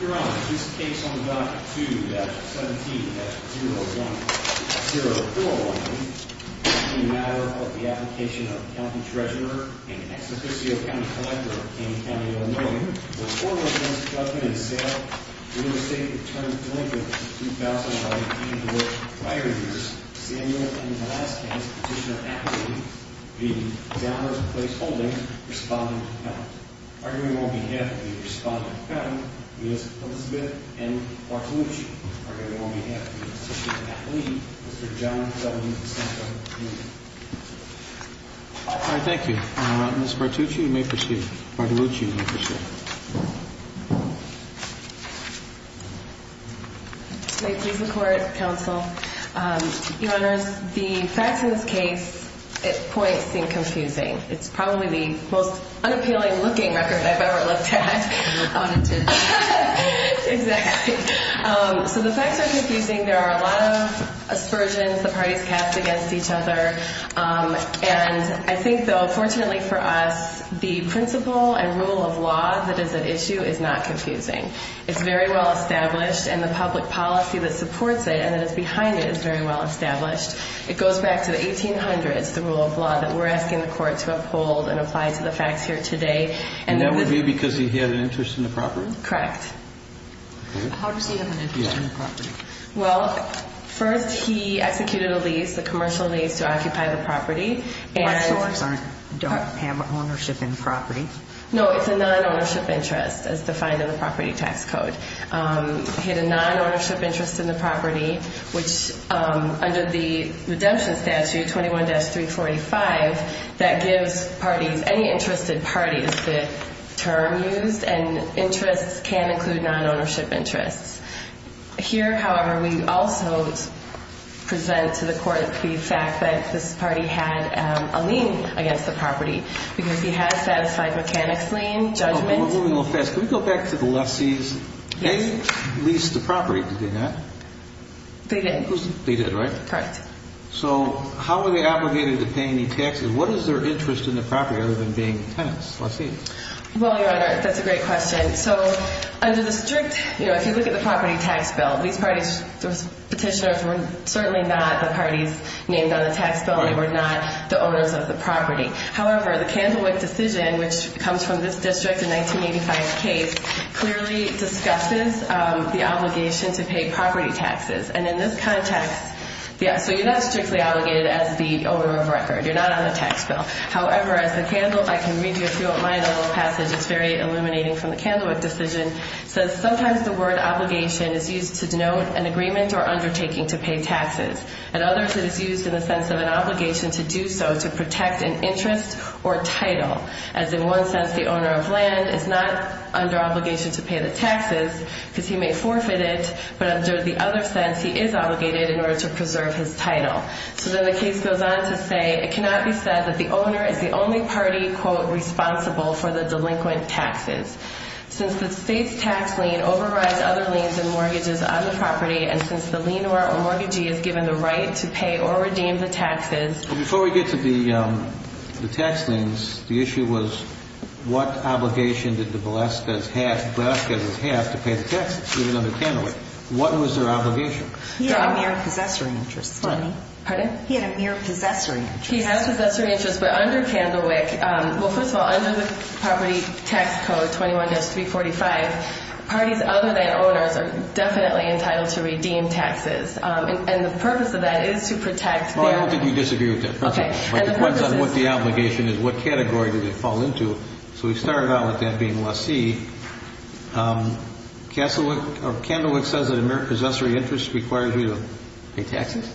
Your Honor, this case on the docket 2-17-010419 is a matter of the application of a county treasurer and an ex officio county collector of King County, Illinois. The court recommends the judgment and sale of the interstate return to Lincoln in 2019, to which prior years Samuel M. Velasquez, petitioner appellee v. Downer Place Holdings, respondent, appellant. Arguing on behalf of the respondent, appellant, Melissa Elizabeth, and Bartolucci. Arguing on behalf of the ex officio appellee, Mr. John W. DeSanto, Jr. All right, thank you. Ms. Bartolucci, you may proceed. May it please the court, counsel. Your Honors, the facts in this case at point seem confusing. It's probably the most unappealing looking record I've ever looked at. I want it too. Exactly. So the facts are confusing. There are a lot of aspersions the parties cast against each other. And I think, though, fortunately for us, the principle and rule of law that is at issue is not confusing. It's very well established, and the public policy that supports it and that is behind it is very well established. It goes back to the 1800s, the rule of law that we're asking the court to uphold and apply to the facts here today. And that would be because he had an interest in the property? Correct. How does he have an interest in the property? Well, first he executed a lease, a commercial lease, to occupy the property. Commercials don't have ownership in property. No, it's a non-ownership interest as defined in the property tax code. He had a non-ownership interest in the property, which under the redemption statute, 21-345, that gives parties, any interested parties, the term used, and interests can include non-ownership interests. Here, however, we also present to the court the fact that this party had a lien against the property because he has satisfied mechanics lien, judgment. We're moving a little fast. Can we go back to the lessees? Yes. They leased the property, did they not? They did. They did, right? Correct. So how were they obligated to pay any taxes? What is their interest in the property other than being tenants, lessees? Well, Your Honor, that's a great question. So under the strict, you know, if you look at the property tax bill, these parties, those petitioners were certainly not the parties named on the tax bill. They were not the owners of the property. However, the Candlewick decision, which comes from this district in 1985's case, clearly discusses the obligation to pay property taxes. And in this context, yes, so you're not strictly obligated as the owner of a record. You're not on the tax bill. However, as the Candle, if I can read you through it, my little passage, it's very illuminating from the Candlewick decision, says sometimes the word obligation is used to denote an agreement or undertaking to pay taxes. At others, it is used in the sense of an obligation to do so to protect an interest or title. As in one sense, the owner of land is not under obligation to pay the taxes because he may forfeit it. But under the other sense, he is obligated in order to preserve his title. So then the case goes on to say, it cannot be said that the owner is the only party, quote, responsible for the delinquent taxes. Since the state's tax lien overrides other liens and mortgages on the property, and since the lien or mortgagee is given the right to pay or redeem the taxes. Before we get to the tax liens, the issue was what obligation did the Velazquez have to pay the taxes, even under Candlewick? What was their obligation? He had a mere possessory interest. Pardon? He had a mere possessory interest. He had a possessory interest. But under Candlewick, well, first of all, under the property tax code 21-345, parties other than owners are definitely entitled to redeem taxes. And the purpose of that is to protect their... Well, I don't think you disagree with that. Okay. But it depends on what the obligation is. What category did they fall into? So we started out with that being LaCie. Candlewick says that a mere possessory interest requires you to pay taxes?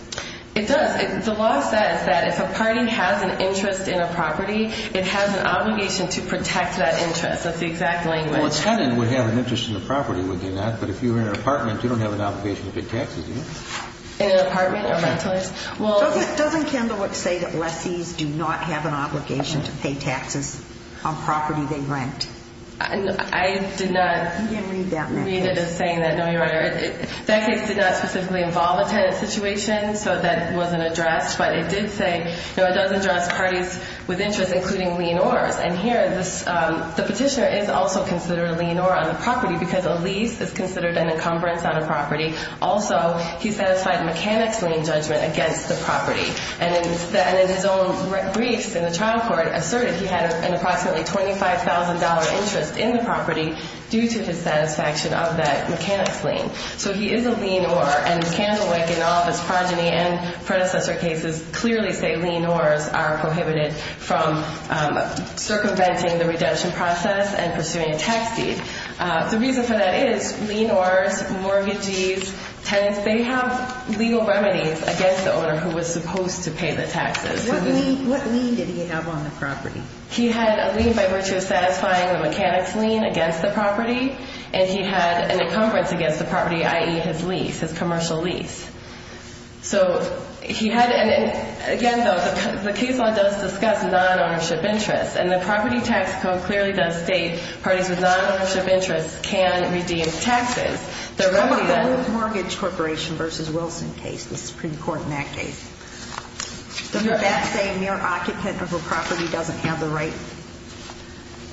It does. The law says that if a party has an interest in a property, it has an obligation to protect that interest. That's the exact language. Well, a tenant would have an interest in the property, would they not? But if you were in an apartment, you don't have an obligation to pay taxes, do you? In an apartment? Doesn't Candlewick say that lessees do not have an obligation to pay taxes on property they rent? I did not read it as saying that, no, Your Honor. That case did not specifically involve a tenant situation, so that wasn't addressed. But it did say, you know, it does address parties with interest, including lien owners. And here the petitioner is also considered a lien owner on the property because a lease is considered an encumbrance on a property. Also, he satisfied mechanic's lien judgment against the property. And in his own briefs in the trial court asserted he had an approximately $25,000 interest in the property due to his satisfaction of that mechanic's lien. So he is a lien owner, and Candlewick and all of his progeny and predecessor cases clearly say lien owners are prohibited from circumventing the redemption process and pursuing a tax deed. The reason for that is lien owners, mortgagees, tenants, they have legal remedies against the owner who was supposed to pay the taxes. What lien did he have on the property? He had a lien by virtue of satisfying the mechanic's lien against the property, and he had an encumbrance against the property, i.e., his lease, his commercial lease. So he had, and again, though, the case law does discuss non-ownership interests, and the property tax code clearly does state parties with non-ownership interests can redeem taxes. How about the Luth Mortgage Corporation v. Wilson case, the Supreme Court in that case? Does that say mere occupant of a property doesn't have the right?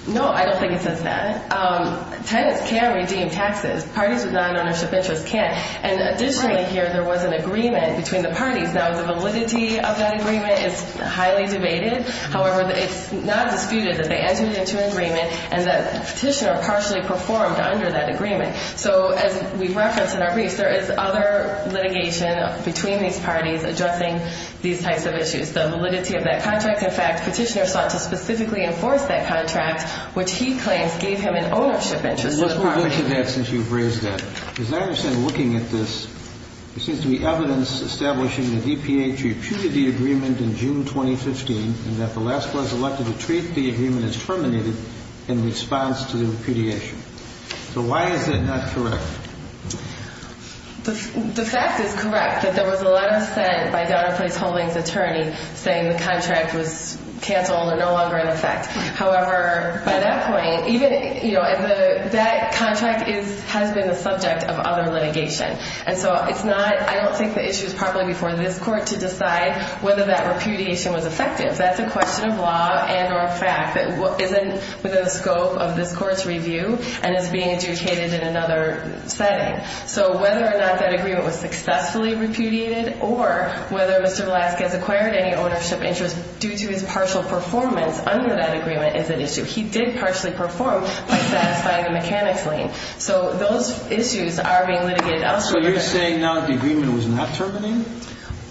No, I don't think it says that. Tenants can redeem taxes. Parties with non-ownership interests can't. And additionally here, there was an agreement between the parties. Now, the validity of that agreement is highly debated. However, it's not disputed that they entered into an agreement and that petitioner partially performed under that agreement. So as we referenced in our briefs, there is other litigation between these parties addressing these types of issues, the validity of that contract. In fact, petitioner sought to specifically enforce that contract, which he claims gave him an ownership interest in the property. Let's move on to that since you've raised that. Because I understand looking at this, there seems to be evidence establishing the DPA repudiated the agreement in June 2015, and that the last person elected to treat the agreement as terminated in response to the repudiation. So why is it not correct? The fact is correct that there was a letter sent by Donner Place Holdings' attorney saying the contract was canceled or no longer in effect. However, by that point, even, you know, that contract has been the subject of other litigation. And so it's not, I don't think the issue is properly before this court to decide whether that repudiation was effective. That's a question of law and or a fact that isn't within the scope of this court's review and is being adjudicated in another setting. So whether or not that agreement was successfully repudiated or whether Mr. Velasquez acquired any ownership interest due to his partial performance under that agreement is an issue. He did partially perform by satisfying a mechanics lien. So those issues are being litigated elsewhere. So you're saying now the agreement was not terminated?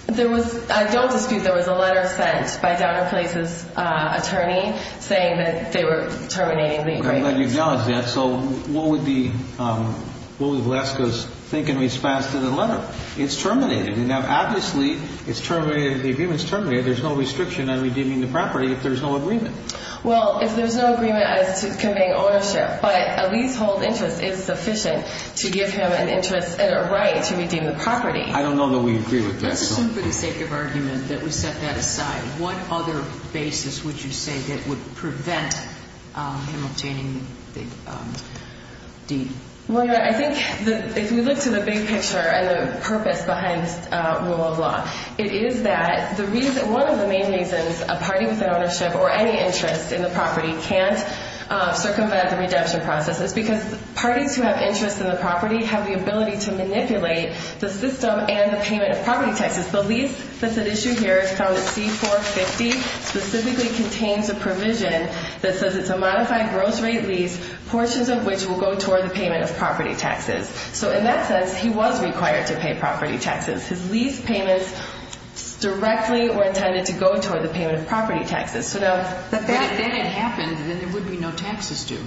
I don't dispute there was a letter sent by Donner Place's attorney saying that they were terminating the agreement. I'm glad you acknowledged that. So what would Velasquez think in response to the letter? It's terminated. Now, obviously, the agreement's terminated. There's no restriction on redeeming the property if there's no agreement. Well, if there's no agreement as to conveying ownership, but a leasehold interest is sufficient to give him an interest and a right to redeem the property. I don't know that we agree with that. Let's assume for the sake of argument that we set that aside. What other basis would you say that would prevent him obtaining the deed? Well, you're right. I think if we look to the big picture and the purpose behind this rule of law, it is that one of the main reasons a party with an ownership or any interest in the property can't circumvent the redemption process is because parties who have interest in the property have the ability to manipulate the system and the payment of property taxes. The lease that's at issue here is found at C-450, specifically contains a provision that says it's a modified gross rate lease, portions of which will go toward the payment of property taxes. So in that sense, he was required to pay property taxes. His lease payments directly were intended to go toward the payment of property taxes. But if that didn't happen, then there would be no taxes due.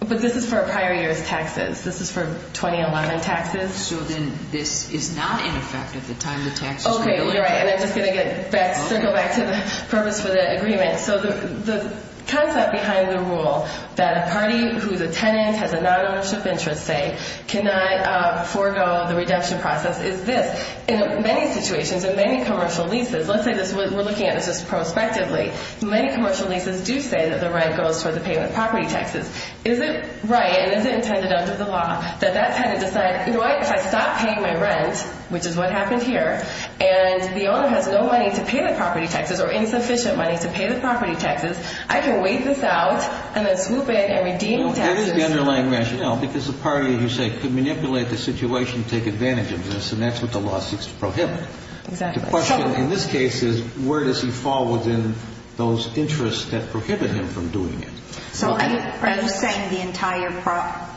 But this is for prior year's taxes. This is for 2011 taxes. So then this is not in effect at the time the taxes were due. Okay, you're right. And I'm just going to circle back to the purpose for the agreement. So the concept behind the rule that a party who's a tenant, has a non-ownership interest, say, cannot forego the redemption process is this. In many situations, in many commercial leases, let's say this, we're looking at this just prospectively. Many commercial leases do say that the rent goes toward the payment of property taxes. Is it right and is it intended under the law that that tenant decides, if I stop paying my rent, which is what happened here, and the owner has no money to pay the property taxes or insufficient money to pay the property taxes, I can wait this out and then swoop in and redeem taxes. That is the underlying rationale because the party, you say, could manipulate the situation, take advantage of this, and that's what the law seeks to prohibit. Exactly. The question in this case is where does he fall within those interests that prohibit him from doing it. So are you saying the entire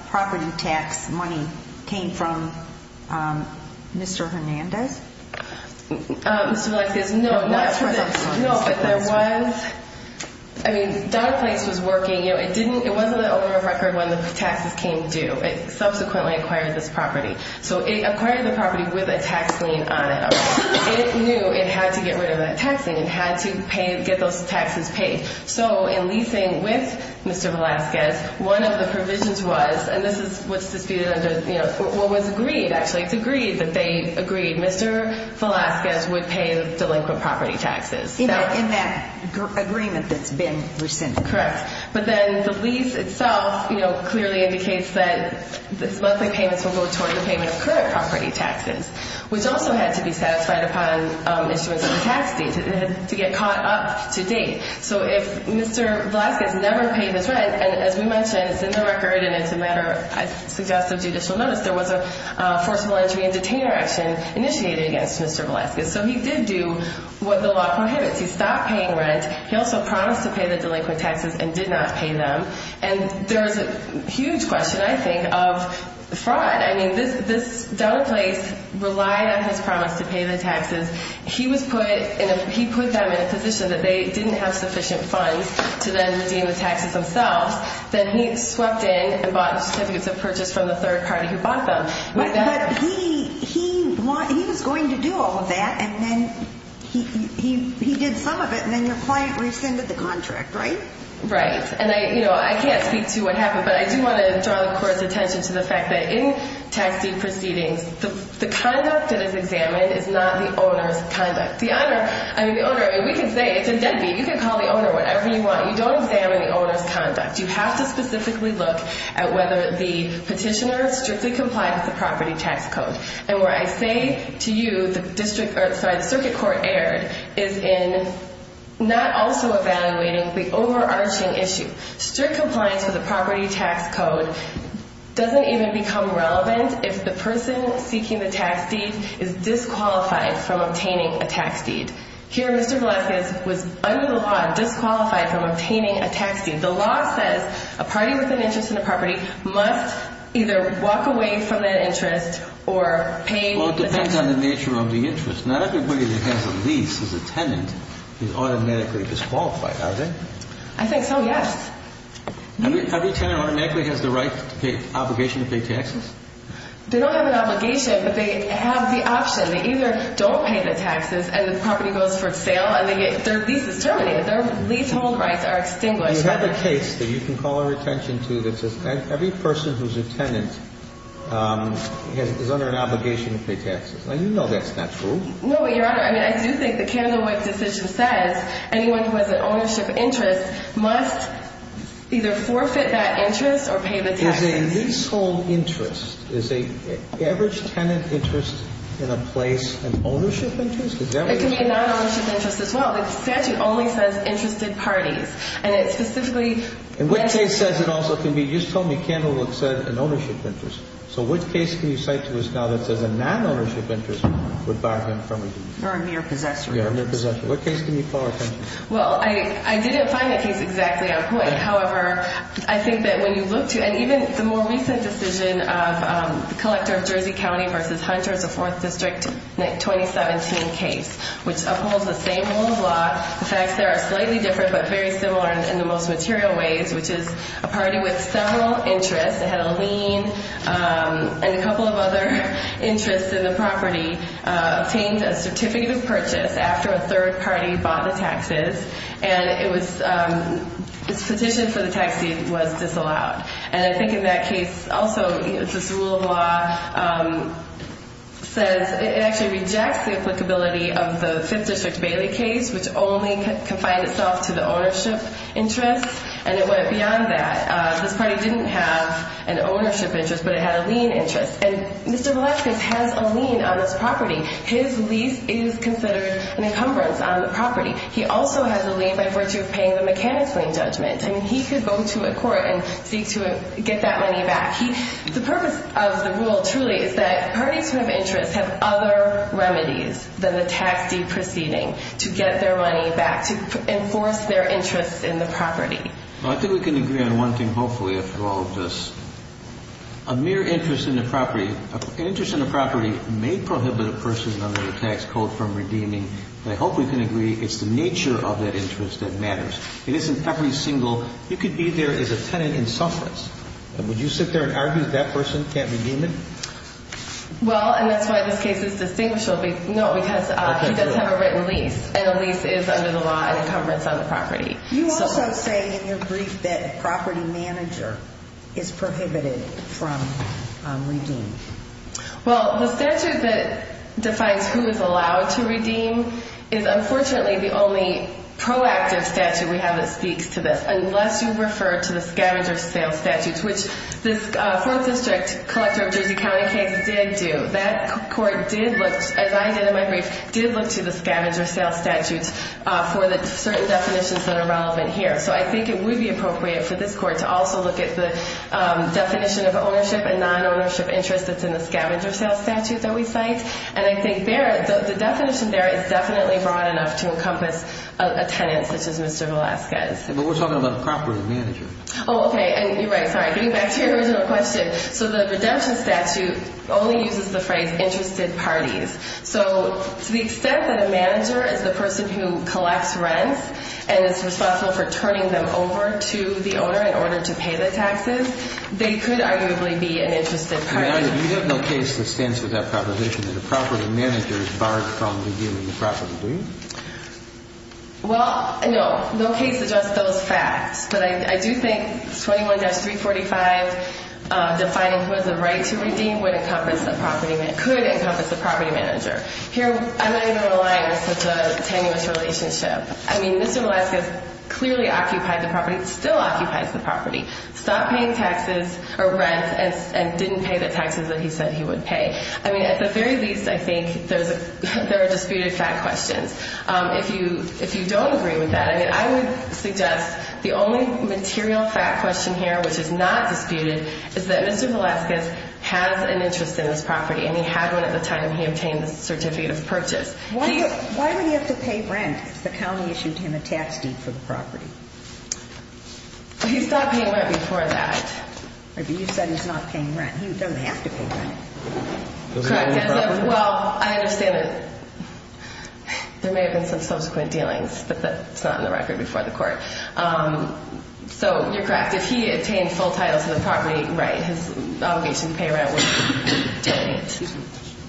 property tax money came from Mr. Hernandez? Mr. Velasquez, no. I mean, Donna Place was working. It wasn't the owner of record when the taxes came due. It subsequently acquired this property. So it acquired the property with a tax lien on it. It knew it had to get rid of that tax lien. It had to get those taxes paid. So in leasing with Mr. Velasquez, one of the provisions was, and this is what's disputed under what was agreed, actually. It's agreed that they agreed Mr. Velasquez would pay the delinquent property taxes. In that agreement that's been rescinded. Correct. But then the lease itself clearly indicates that monthly payments will go toward the payment of current property taxes, which also had to be satisfied upon issuance of the tax deed. It had to get caught up to date. So if Mr. Velasquez never paid his rent, and as we mentioned, it's in the record and it's a matter, I suggest, of judicial notice, there was a forceful entry and detainer action initiated against Mr. Velasquez. So he did do what the law prohibits. He stopped paying rent. He also promised to pay the delinquent taxes and did not pay them. And there's a huge question, I think, of fraud. I mean, this, Donna Place relied on his promise to pay the taxes. He put them in a position that they didn't have sufficient funds to then redeem the taxes themselves. Then he swept in and bought certificates of purchase from the third party who bought them. But he was going to do all of that, and then he did some of it, and then your client rescinded the contract, right? Right. And, you know, I can't speak to what happened, but I do want to draw the court's attention to the fact that in tax deed proceedings, the conduct that is examined is not the owner's conduct. I mean, the owner, we can say it's a deadbeat. You can call the owner whatever you want. You don't examine the owner's conduct. You have to specifically look at whether the petitioner strictly complied with the property tax code. And where I say to you the circuit court erred is in not also evaluating the overarching issue. Strict compliance with the property tax code doesn't even become relevant if the person seeking the tax deed is disqualified from obtaining a tax deed. Here, Mr. Velazquez was under the law disqualified from obtaining a tax deed. The law says a party with an interest in a property must either walk away from that interest or pay the interest. Well, it depends on the nature of the interest. Not everybody that has a lease as a tenant is automatically disqualified, are they? I think so, yes. Every tenant automatically has the right to pay obligation to pay taxes? They don't have an obligation, but they have the option. They either don't pay the taxes, and the property goes for sale, and their lease is terminated. Their leasehold rights are extinguished. You have a case that you can call our attention to that says every person who's a tenant is under an obligation to pay taxes. Now, you know that's not true. No, Your Honor. I mean, I do think the Candlewick decision says anyone who has an ownership interest must either forfeit that interest or pay the taxes. There's a leasehold interest. Is an average tenant interest in a place an ownership interest? It can be a non-ownership interest as well. The statute only says interested parties, and it specifically – And what case says it also can be – you just told me Candlewick said an ownership interest. So what case can you cite to us now that says a non-ownership interest would buy him from a lease? Or a mere possessor. Yeah, a mere possessor. What case can you call our attention to? Well, I didn't find that case exactly on point. However, I think that when you look to – and even the more recent decision of the collector of Jersey County v. Hunter, the 4th District 2017 case, which upholds the same rule of law. In fact, they are slightly different but very similar in the most material ways, which is a party with several interests. It had a lien and a couple of other interests in the property, obtained a certificate of purchase after a third party bought the taxes. And it was – this petition for the tax deed was disallowed. And I think in that case, also, this rule of law says it actually rejects the applicability of the 5th District Bailey case, which only confined itself to the ownership interest, and it went beyond that. This party didn't have an ownership interest, but it had a lien interest. And Mr. Velazquez has a lien on this property. His lease is considered an encumbrance on the property. He also has a lien by virtue of paying the mechanic's lien judgment. I mean, he could go to a court and seek to get that money back. The purpose of the rule, truly, is that parties who have interests have other remedies than the tax deed proceeding to get their money back, to enforce their interests in the property. Well, I think we can agree on one thing, hopefully, after all of this. A mere interest in the property – an interest in the property may prohibit a person under the tax code from redeeming, but I hope we can agree it's the nature of that interest that matters. It isn't every single – you could be there as a tenant in sufferance, and would you sit there and argue that that person can't redeem it? Well, and that's why this case is distinguishable. No, because he does have a written lease, and a lease is under the law an encumbrance on the property. You also say in your brief that a property manager is prohibited from redeeming. Well, the statute that defines who is allowed to redeem is unfortunately the only proactive statute we have that speaks to this, unless you refer to the scavenger sales statutes, which this 4th District collector of Jersey County case did do. That court did look, as I did in my brief, did look to the scavenger sales statutes for the certain definitions that are relevant here. So I think it would be appropriate for this court to also look at the definition of ownership and non-ownership interest that's in the scavenger sales statute that we cite, and I think the definition there is definitely broad enough to encompass a tenant such as Mr. Velasquez. But we're talking about the property manager. Oh, okay, and you're right. Sorry. Getting back to your original question. So the redemption statute only uses the phrase interested parties. So to the extent that a manager is the person who collects rents and is responsible for turning them over to the owner in order to pay the taxes, they could arguably be an interested party. You have no case that stands for that proposition that a property manager is barred from redeeming the property, do you? Well, no. No case suggests those facts. But I do think 21-345 defining who has a right to redeem would encompass a property manager, could encompass a property manager. Here I'm not even relying on such a tenuous relationship. I mean, Mr. Velasquez clearly occupied the property, still occupies the property, stopped paying taxes or rents and didn't pay the taxes that he said he would pay. I mean, at the very least, I think there are disputed fact questions. If you don't agree with that, I would suggest the only material fact question here which is not disputed is that Mr. Velasquez has an interest in this property and he had one at the time he obtained the certificate of purchase. Why would he have to pay rent if the county issued him a tax deed for the property? He's not paying rent before that. But you said he's not paying rent. He doesn't have to pay rent. Does he own the property? Well, I understand that there may have been some subsequent dealings, but that's not on the record before the court. So you're correct. If he obtained full title to the property, right, his obligation to pay rent would be delineated.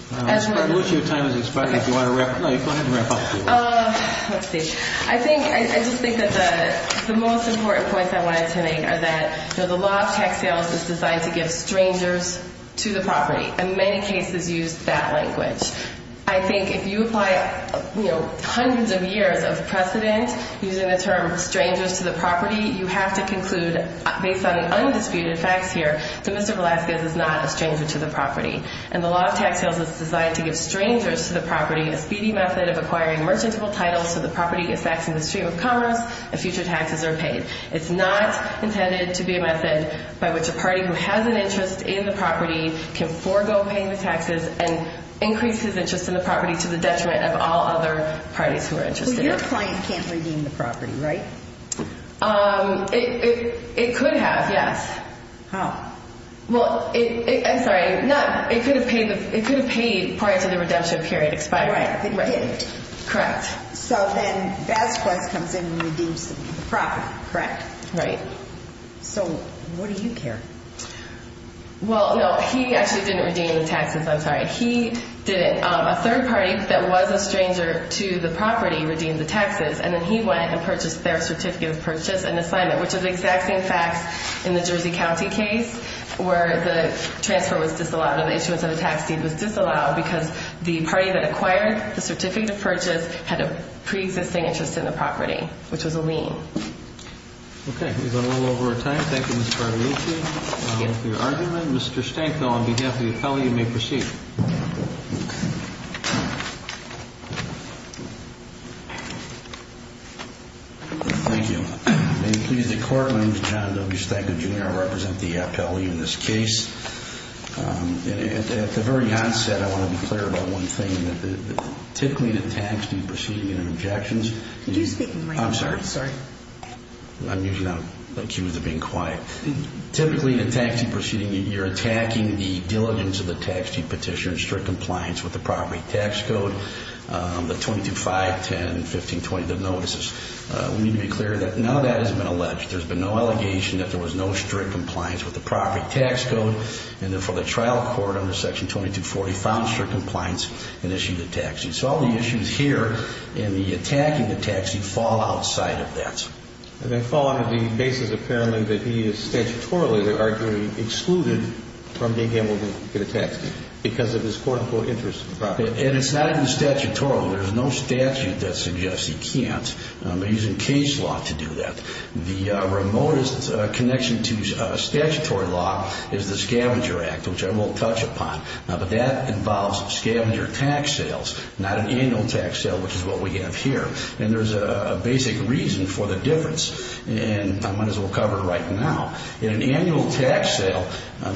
What's your time as expected? Do you want to wrap up? No, you go ahead and wrap up. Let's see. I just think that the most important points I want to make are that the law of tax sales is designed to give strangers to the property. In many cases, use that language. I think if you apply hundreds of years of precedent using the term strangers to the property, you have to conclude based on undisputed facts here that Mr. Velasquez is not a stranger to the property. And the law of tax sales is designed to give strangers to the property a speedy method of acquiring merchantable titles so the property is taxed in the stream of commerce and future taxes are paid. It's not intended to be a method by which a party who has an interest in the property can forego paying the taxes and increase his interest in the property to the detriment of all other parties who are interested in it. So your client can't redeem the property, right? It could have, yes. How? Well, I'm sorry, it could have paid prior to the redemption period expiring. Right, it didn't. Correct. So then Velasquez comes in and redeems the property, correct? Right. So what do you care? Well, no, he actually didn't redeem the taxes. I'm sorry. He didn't. A third party that was a stranger to the property redeemed the taxes, and then he went and purchased their certificate of purchase and assignment, which is the exact same facts in the Jersey County case where the transfer was disallowed and the issuance of the tax deed was disallowed because the party that acquired the certificate of purchase had a preexisting interest in the property, which was a lien. Okay. We've gone a little over our time. Thank you, Ms. Carlucci, for your argument. Mr. Stanko, on behalf of the appellee, you may proceed. Thank you. May it please the Court, my name is John W. Stanko, Jr., I represent the appellee in this case. At the very onset, I want to be clear about one thing. Typically, in a tax deed proceeding, there are objections. Could you speak in the microphone? I'm sorry. Sorry. I'm usually not accused of being quiet. Typically, in a tax deed proceeding, you're attacking the diligence of the tax deed petitioner in strict compliance with the property tax code, the 22-5, 10, 15, 20, the notices. We need to be clear that none of that has been alleged. There's been no allegation that there was no strict compliance with the property tax code. And therefore, the trial court under Section 2240 found strict compliance and issued the tax deed. So all the issues here in the attacking the tax deed fall outside of that. And they fall out of the basis, apparently, that he is statutorily, they're arguing, excluded from being handled in a tax deed because of his, quote, unquote, interest in the property. And it's not even statutorily. There's no statute that suggests he can't. They're using case law to do that. The remotest connection to statutory law is the Scavenger Act, which I won't touch upon. But that involves scavenger tax sales, not an annual tax sale, which is what we have here. And there's a basic reason for the difference, and I might as well cover it right now. In an annual tax sale,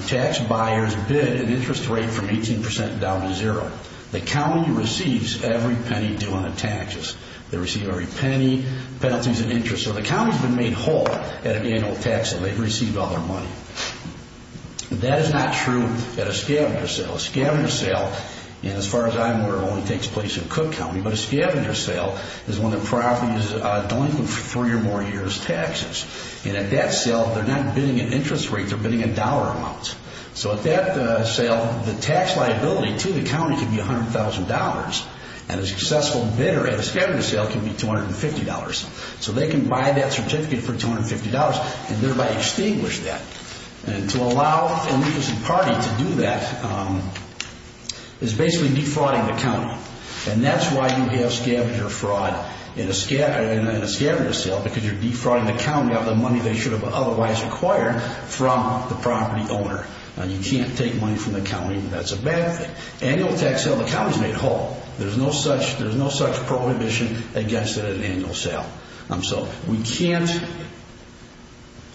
tax buyers bid an interest rate from 18% down to zero. The county receives every penny due on the taxes. They receive every penny, penalties and interest. So the county's been made whole at an annual tax sale. They've received all their money. That is not true at a scavenger sale. A scavenger sale, as far as I'm aware, only takes place in Cook County. But a scavenger sale is when the property is delinquent for three or more years' taxes. And at that sale, they're not bidding an interest rate. They're bidding a dollar amount. So at that sale, the tax liability to the county can be $100,000. And a successful bidder at a scavenger sale can be $250. So they can buy that certificate for $250 and thereby extinguish that. And to allow O'Neill's party to do that is basically defrauding the county. And that's why you have scavenger fraud in a scavenger sale because you're defrauding the county of the money they should have otherwise acquired from the property owner. You can't take money from the county. That's a bad thing. Annual tax sale, the county's made whole. There's no such prohibition against it at an annual sale. We can't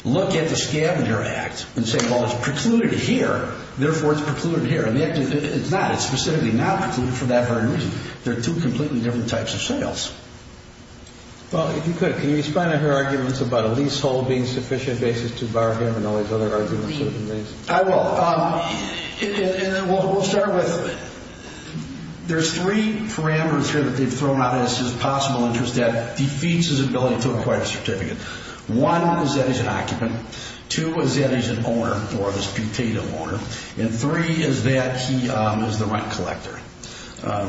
look at the scavenger act and say, well, it's precluded here. Therefore, it's precluded here. And it's not. It's specifically not precluded for that very reason. They're two completely different types of sales. Well, if you could, can you respond to her arguments about a leasehold being sufficient basis to borrow here and all these other arguments? I will. We'll start with there's three parameters here that they've thrown out as possible interests that defeats his ability to acquire a certificate. One is that he's an occupant. Two is that he's an owner or this putative owner. And three is that he is the rent collector.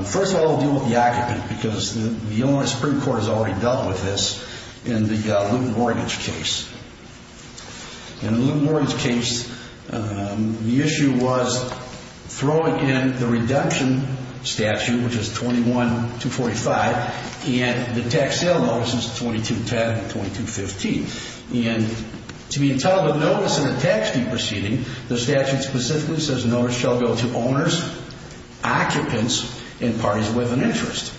First of all, we'll deal with the occupant because the Illinois Supreme Court has already dealt with this in the loot and mortgage case. In the loot and mortgage case, the issue was throwing in the redemption statute, which is 21-245, and the tax sale notices 22-10 and 22-15. And to be entitled to notice in a tax deed proceeding, the statute specifically says notice shall go to owners, occupants, and parties with an interest.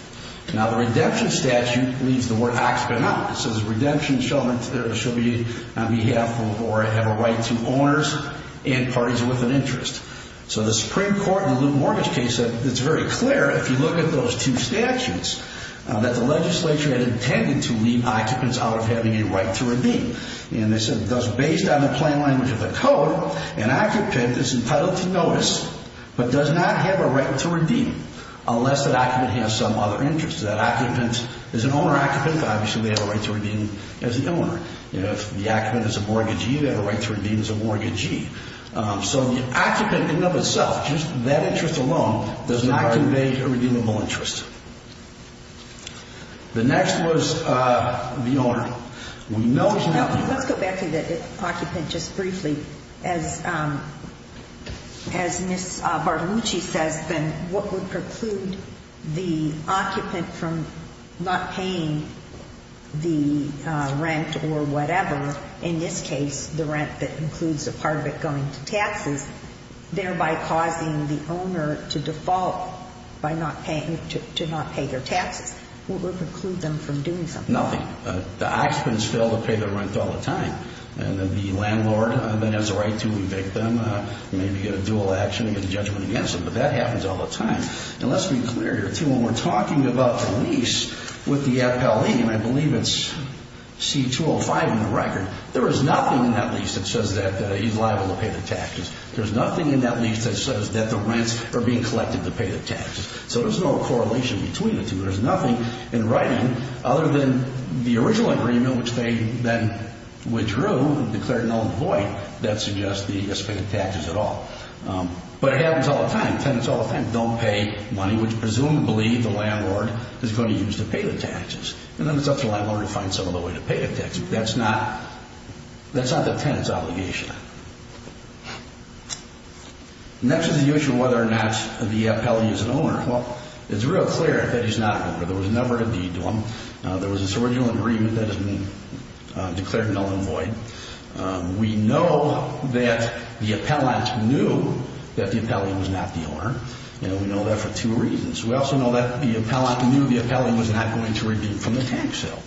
Now, the redemption statute leaves the word occupant out. It says redemption shall be on behalf or have a right to owners and parties with an interest. So the Supreme Court in the loot and mortgage case said it's very clear if you look at those two statutes that the legislature had intended to leave occupants out of having a right to redeem. And they said based on the plain language of the code, an occupant is entitled to notice but does not have a right to redeem unless that occupant has some other interest. That occupant is an owner-occupant. Obviously, they have a right to redeem as the owner. If the occupant is a mortgagee, they have a right to redeem as a mortgagee. So the occupant in and of itself, just that interest alone, does not convey a redeemable interest. The next was the owner. Let's go back to the occupant just briefly. As Ms. Bartolucci says, then what would preclude the occupant from not paying the rent or whatever, in this case, the rent that includes a part of it going to taxes, thereby causing the owner to default to not pay their taxes? What would preclude them from doing something? Nothing. The occupants fail to pay their rent all the time. And then the landlord then has a right to evict them, maybe get a dual action, get a judgment against them. But that happens all the time. And let's be clear here, too. When we're talking about a lease with the appellee, and I believe it's C-205 in the record, there is nothing in that lease that says that he's liable to pay the taxes. There's nothing in that lease that says that the rents are being collected to pay the taxes. So there's no correlation between the two. There's nothing in writing other than the original agreement, which they then withdrew, declared null and void, that suggests that he gets paid the taxes at all. But it happens all the time. It happens all the time. They don't pay money, which presumably the landlord is going to use to pay the taxes. And then it's up to the landlord to find some other way to pay the taxes. That's not the tenant's obligation. Next is the issue of whether or not the appellee is an owner. Well, it's real clear that he's not an owner. There was never a deed to him. There was this original agreement that is declared null and void. We know that the appellant knew that the appellant was not the owner. And we know that for two reasons. We also know that the appellant knew the appellant was not going to redeem from the tax sale.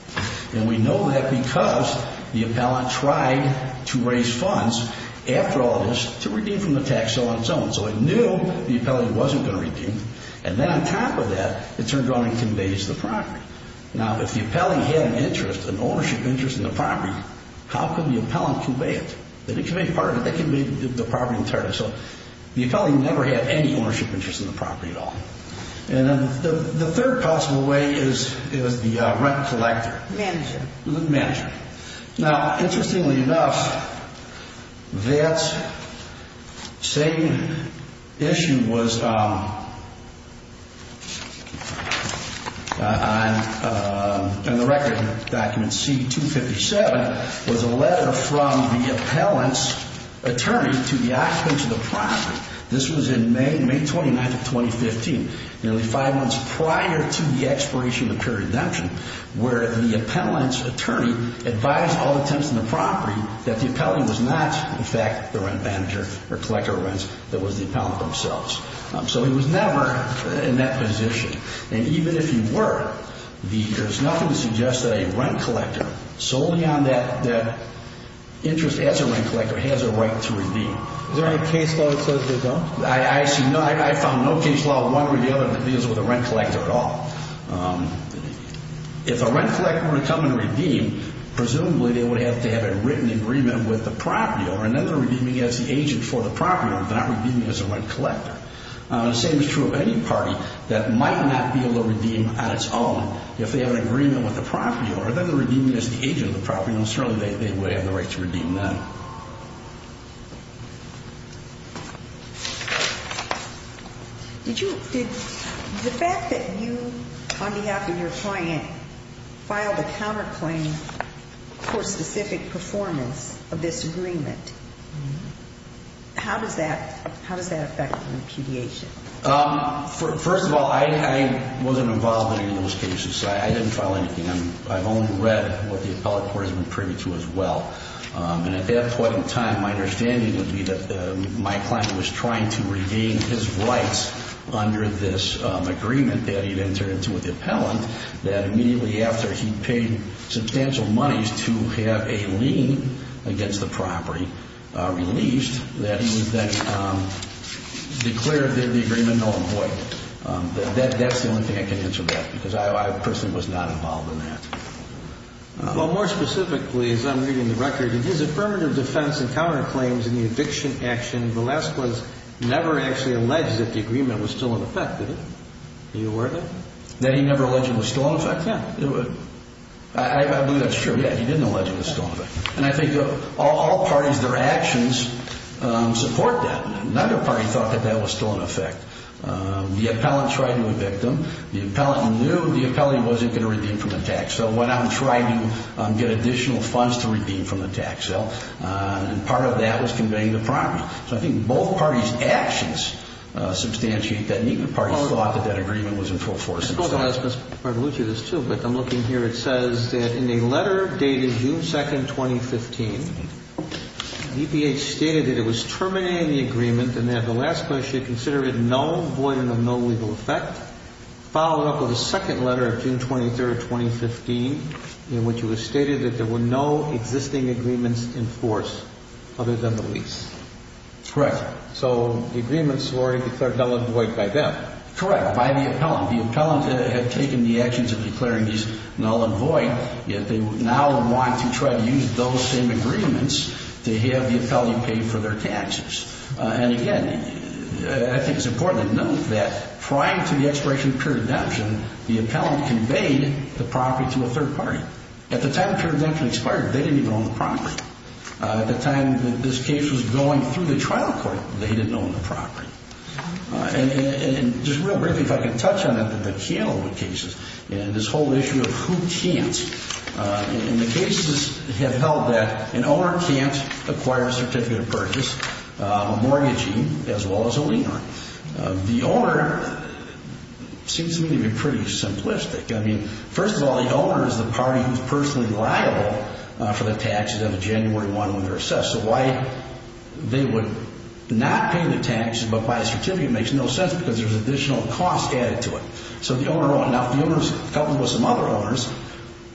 And we know that because the appellant tried to raise funds after all this to redeem from the tax sale on its own. So it knew the appellant wasn't going to redeem. And then on top of that, it turned around and conveys the property. Now, if the appellant had an interest, an ownership interest in the property, how could the appellant convey it? They didn't convey part of it. They conveyed the property entirely. So the appellant never had any ownership interest in the property at all. And then the third possible way is the rent collector. The manager. The manager. Now, interestingly enough, that same issue was on the record. Document C-257 was a letter from the appellant's attorney to the occupants of the property. This was in May, May 29th of 2015. Nearly five months prior to the expiration of the period of redemption, where the appellant's attorney advised all the tenants in the property that the appellant was not, in fact, the rent manager or collector of rents, that was the appellant themselves. So he was never in that position. And even if he were, there's nothing to suggest that a rent collector, solely on that interest as a rent collector, has a right to redeem. Is there any case law that says there's none? I found no case law, one or the other, that deals with a rent collector at all. If a rent collector were to come and redeem, presumably they would have to have a written agreement with the property owner, and then they're redeeming as the agent for the property owner. They're not redeeming as a rent collector. The same is true of any party that might not be able to redeem on its own if they have an agreement with the property owner. Then they're redeeming as the agent of the property owner, and certainly they would have the right to redeem then. The fact that you, on behalf of your client, filed a counterclaim for specific performance of this agreement, how does that affect your impediation? First of all, I wasn't involved in any of those cases, so I didn't file anything. I've only read what the appellate court has been privy to as well. At that point in time, my understanding would be that my client was trying to regain his rights under this agreement that he'd entered into with the appellant, that immediately after he paid substantial monies to have a lien against the property released, that he would then declare the agreement null and void. That's the only thing I can answer that, because I personally was not involved in that. Well, more specifically, as I'm reading the record, in his affirmative defense and counterclaims in the eviction action, Villescaz never actually alleged that the agreement was still in effect, did he? Are you aware of that? That he never alleged it was still in effect? Yeah. I believe that's true. Yeah, he didn't allege it was still in effect. And I think all parties, their actions support that. Another party thought that that was still in effect. The appellant tried to evict him. The appellant knew the appellant wasn't going to redeem from the tax. So went out and tried to get additional funds to redeem from the tax. So part of that was conveying the property. So I think both parties' actions substantiate that. Neither party thought that that agreement was in full force. I'm looking here, it says that in a letter dated June 2nd, 2015, DPH stated that it was terminating the agreement and that Villescaz should consider it no void and of no legal effect, followed up with a second letter of June 23rd, 2015, in which it was stated that there were no existing agreements in force other than the lease. Correct. So the agreements were declared null and void by them. Correct, by the appellant. The appellant had taken the actions of declaring these null and void, yet they now want to try to use those same agreements to have the appellant pay for their taxes. And again, I think it's important to note that prior to the expiration of pure redemption, the appellant conveyed the property to a third party. At the time of pure redemption expired, they didn't even own the property. At the time that this case was going through the trial court, they didn't own the property. And just real briefly, if I can touch on it, the candlewood cases and this whole issue of who can't. And the cases have held that an owner can't acquire a certificate of purchase, a mortgagee, as well as a lender. The owner seems to me to be pretty simplistic. I mean, first of all, the owner is the party who's personally liable for the taxes on January 1 when they're assessed. So why they would not pay the taxes but buy a certificate makes no sense because there's additional cost added to it. So the owner won't know. The owner is coupled with some other owners.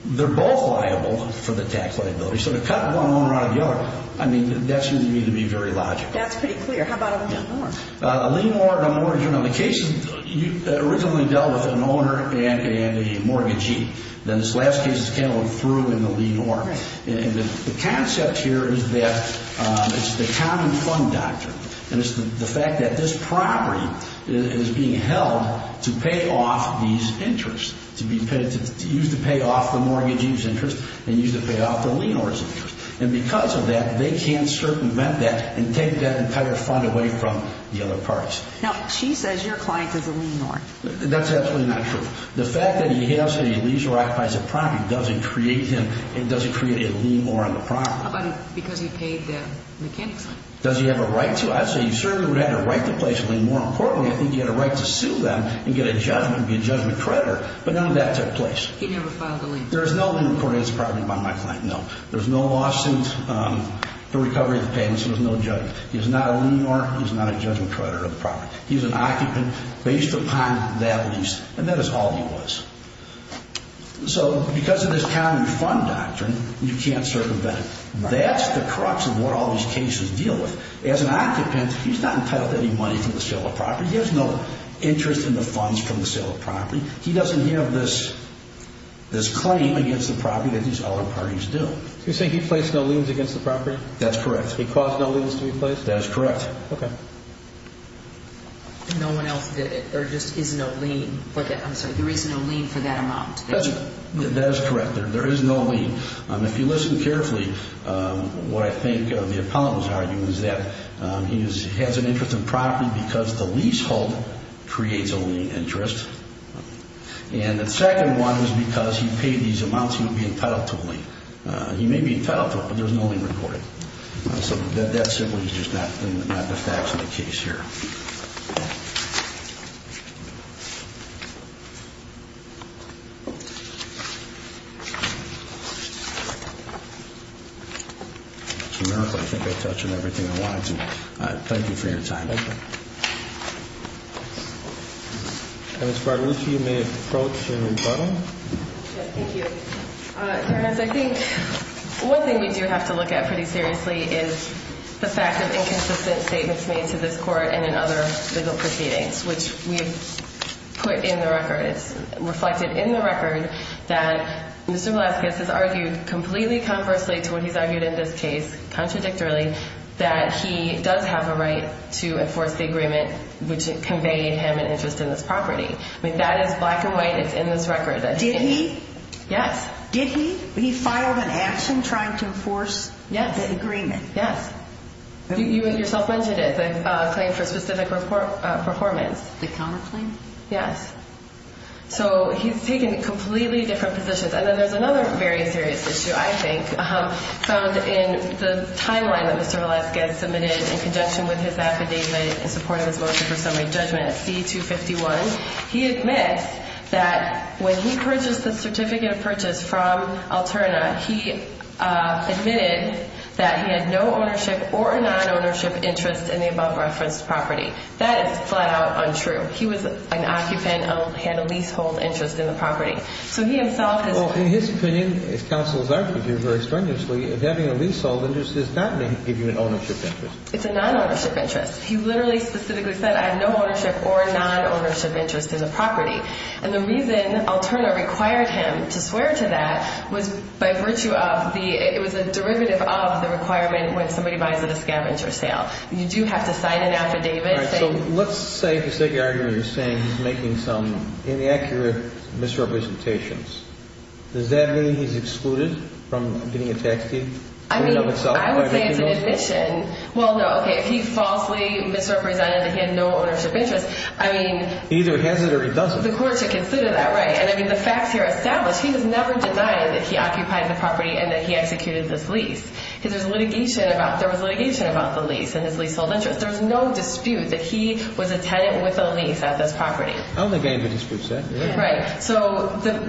They're both liable for the tax liability. So to cut one owner out of the other, I mean, that seems to me to be very logical. That's pretty clear. How about a lien or a mortgage? A lien or a mortgage. You know, the cases originally dealt with an owner and a mortgagee. Then this last case is candlewood through in the lien or. And the concept here is that it's the common fund doctrine. And it's the fact that this property is being held to pay off these interests, to be used to pay off the mortgagee's interest and used to pay off the lien or's interest. And because of that, they can't circumvent that and take that entire fund away from the other parties. Now, she says your client is a lien or. That's absolutely not true. The fact that he has a lease or occupies a property doesn't create him and doesn't create a lien or on the property. How about because he paid the mechanics? Does he have a right to? I'd say he certainly would have a right to place a lien. More importantly, I think he had a right to sue them and get a judgment, be a judgment creditor. But none of that took place. He never filed a lien. There is no lien recorded as a property by my client, no. There's no lawsuit for recovery of the payments. There was no judgment. He is not a lien or. He is not a judgment creditor of the property. He is an occupant based upon that lease. And that is all he was. So because of this county fund doctrine, you can't circumvent it. That's the crux of what all these cases deal with. As an occupant, he's not entitled to any money from the sale of property. He has no interest in the funds from the sale of property. He doesn't have this claim against the property that these other parties do. You're saying he placed no liens against the property? That's correct. He caused no liens to be placed? That is correct. Okay. No one else did it. There just is no lien. I'm sorry. There is no lien for that amount. That is correct. There is no lien. If you listen carefully, what I think the appellant was arguing is that he has an interest in property because the lease hold creates a lien interest. And the second one is because he paid these amounts, he would be entitled to a lien. He may be entitled to it, but there's no lien recorded. So that simply is just not the facts of the case here. It's a miracle. I think I touched on everything I wanted to. Thank you for your time. Thank you. Ms. Bartolucci, you may approach the room bottom. Thank you. I think one thing we do have to look at pretty seriously is the fact of inconsistent statements made to this court and in other legal proceedings, which we put in the record. It's reflected in the record that Mr. Velasquez has argued completely conversely to what he's argued in this case, contradictorily, that he does have a right to enforce the agreement which conveyed him an interest in this property. I mean, that is black and white. It's in this record. Did he? Yes. Did he? He filed an action trying to enforce the agreement? Yes. You yourself mentioned it, the claim for specific performance. The counterclaim? Yes. So he's taken completely different positions. And then there's another very serious issue, I think, found in the timeline that Mr. Velasquez submitted in conjunction with his affidavit in support of his motion for summary judgment at C-251. He admits that when he purchased the certificate of purchase from Alterna, he admitted that he had no ownership or a non-ownership interest in the above-referenced property. That is flat-out untrue. He was an occupant, had a leasehold interest in the property. So he himself has... Well, in his opinion, as counsels argue very strenuously, having a leasehold interest does not give you an ownership interest. It's a non-ownership interest. He literally specifically said, I have no ownership or non-ownership interest in the property. And the reason Alterna required him to swear to that was by virtue of the... It was a derivative of the requirement when somebody buys at a scavenger sale. You do have to sign an affidavit. All right. So let's say the second argument is saying he's making some inaccurate misrepresentations. Does that mean he's excluded from getting a tax deed? I mean, I would say it's an admission. Well, no. Okay, if he falsely misrepresented that he had no ownership interest, I mean... Either he has it or he doesn't. The court should consider that. Right. And, I mean, the facts here establish he was never denied that he occupied the property and that he executed this lease. Because there was litigation about the lease and his leasehold interest. There was no dispute that he was a tenant with a lease at this property. I don't think anybody disputes that. Right.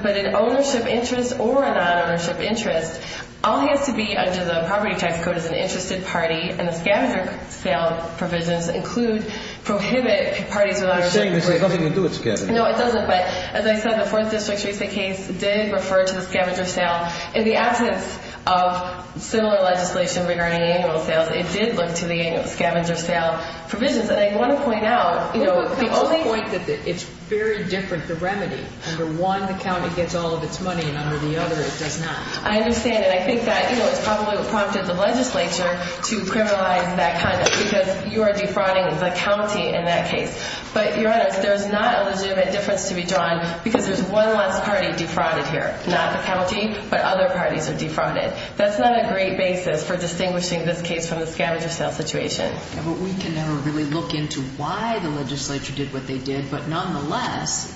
But an ownership interest or a non-ownership interest, all he has to be under the Property Tax Code is an interested party, and the scavenger sale provisions include prohibit parties without ownership. You're saying this has nothing to do with scavengers. No, it doesn't. But, as I said, the Fourth District's recent case did refer to the scavenger sale. In the absence of similar legislation regarding annual sales, it did look to the annual scavenger sale provisions. And I want to point out, you know, the only... I want to point out that it's very different, the remedy. Under one, the county gets all of its money, and under the other it does not. I understand. And I think that, you know, it's probably what prompted the legislature to criminalize that conduct because you are defrauding the county in that case. But, your Honor, there's not a legitimate difference to be drawn because there's one less party defrauded here. Not the county, but other parties are defrauded. That's not a great basis for distinguishing this case from the scavenger sale situation. Yeah, but we can never really look into why the legislature did what they did, but nonetheless,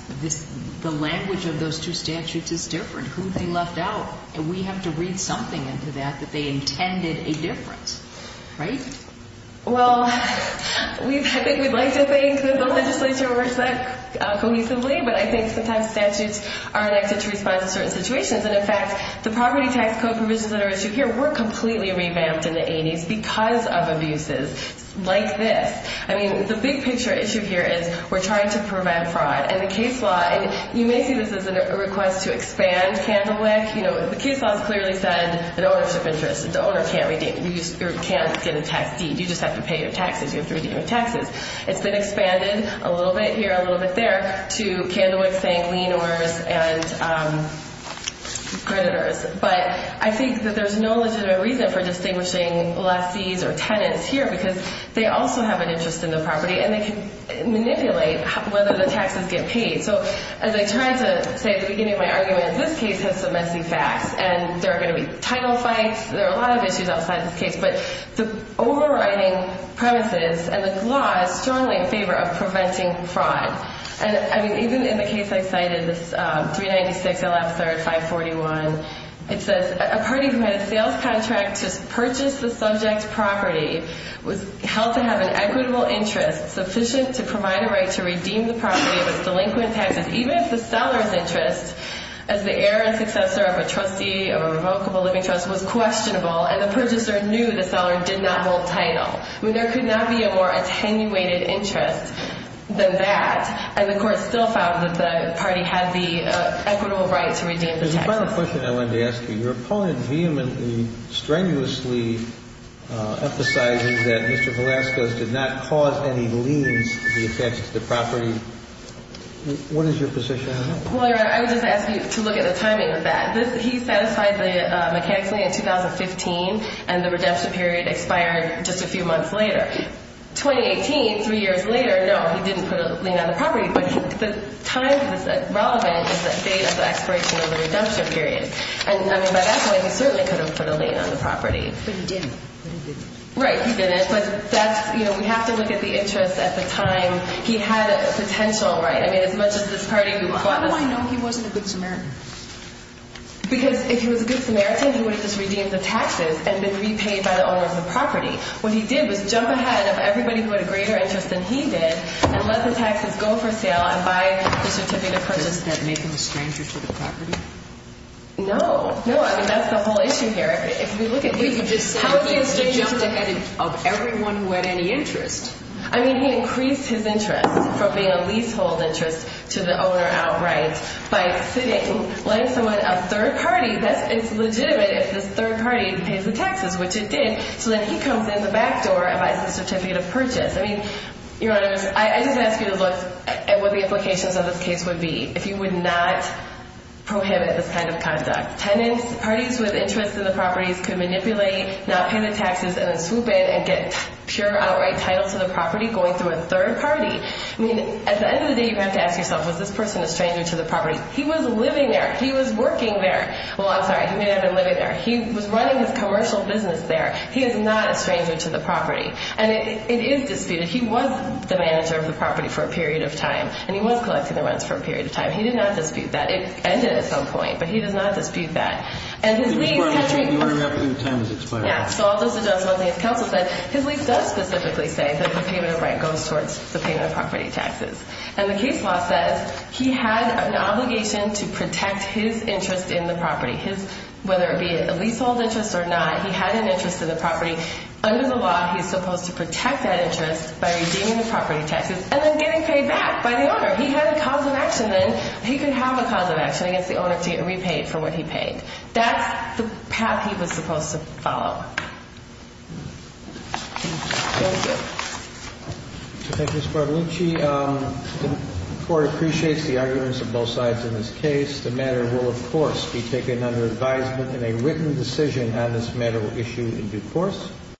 the language of those two statutes is different. Who they left out. And we have to read something into that that they intended a difference, right? Well, I think we'd like to think that the legislature works that cohesively, but I think sometimes statutes are enacted to respond to certain situations. And, in fact, the property tax code provisions that are at issue here were completely revamped in the 80s because of abuses like this. I mean, the big picture issue here is we're trying to prevent fraud. And the case law, and you may see this as a request to expand Candlewick. You know, the case law has clearly said an ownership interest. The owner can't get a tax deed. You just have to pay your taxes. You have to redeem your taxes. It's been expanded a little bit here, a little bit there, to Candlewick saying lien owners and creditors. But I think that there's no legitimate reason for distinguishing lessees or tenants here because they also have an interest in the property and they can manipulate whether the taxes get paid. So, as I tried to say at the beginning of my argument, this case has some messy facts, and there are going to be title fights. There are a lot of issues outside this case. But the overriding premises and the law is strongly in favor of preventing fraud. And, I mean, even in the case I cited, this 396 LF-3541, it says a party who had a sales contract to purchase the subject's property was held to have an equitable interest sufficient to provide a right to redeem the property of its delinquent taxes even if the seller's interest, as the heir and successor of a trustee of a revocable living trust, was questionable and the purchaser knew the seller did not hold title. I mean, there could not be a more attenuated interest than that. And the court still found that the party had the equitable right to redeem the taxes. The final question I wanted to ask you, your opponent vehemently, strenuously emphasizes that Mr. Velasquez did not cause any liens to be attached to the property. What is your position on that? Well, Your Honor, I would just ask you to look at the timing of that. He satisfied the mechanic's lien in 2015, and the redemption period expired just a few months later. 2018, three years later, no, he didn't put a lien on the property. But the time that's relevant is the date of the expiration of the redemption period. And, I mean, by that point, he certainly could have put a lien on the property. But he didn't. But he didn't. Right, he didn't. But that's, you know, we have to look at the interest at the time. He had a potential, right? I mean, as much as this party who bought it. How do I know he wasn't a good Samaritan? Because if he was a good Samaritan, he would have just redeemed the taxes and been repaid by the owner of the property. What he did was jump ahead of everybody who had a greater interest than he did and let the taxes go for sale and buy the certificate of purchase. Doesn't that make him a stranger to the property? No. No, I mean, that's the whole issue here. If we look at the interest. Wait, you just said he jumped ahead of everyone who had any interest. I mean, he increased his interest from being a leasehold interest to the owner outright by sitting, letting someone, a third party. It's legitimate if this third party pays the taxes, which it did. So then he comes in the back door and buys the certificate of purchase. I just ask you to look at what the implications of this case would be if you would not prohibit this kind of conduct. Parties with interest in the properties could manipulate, not pay the taxes and then swoop in and get pure outright title to the property going through a third party. I mean, at the end of the day, you have to ask yourself, was this person a stranger to the property? He was living there. He was working there. Well, I'm sorry, he may not have been living there. He was running his commercial business there. He is not a stranger to the property. And it is disputed. He was the manager of the property for a period of time, and he was collecting the rents for a period of time. He did not dispute that. It ended at some point, but he does not dispute that. And his lease— The order of the time is expired. Yeah, so all those adjustments, and as counsel said, his lease does specifically say that the payment of rent goes towards the payment of property taxes. And the case law says he had an obligation to protect his interest in the property, whether it be a leasehold interest or not. He had an interest in the property. Under the law, he is supposed to protect that interest by redeeming the property taxes and then getting paid back by the owner. He had a cause of action, and he could have a cause of action against the owner to get repaid for what he paid. That's the path he was supposed to follow. Thank you. Thank you, Ms. Barbellucci. The Court appreciates the arguments of both sides in this case. The matter will, of course, be taken under advisement, and a written decision on this matter will issue in due course.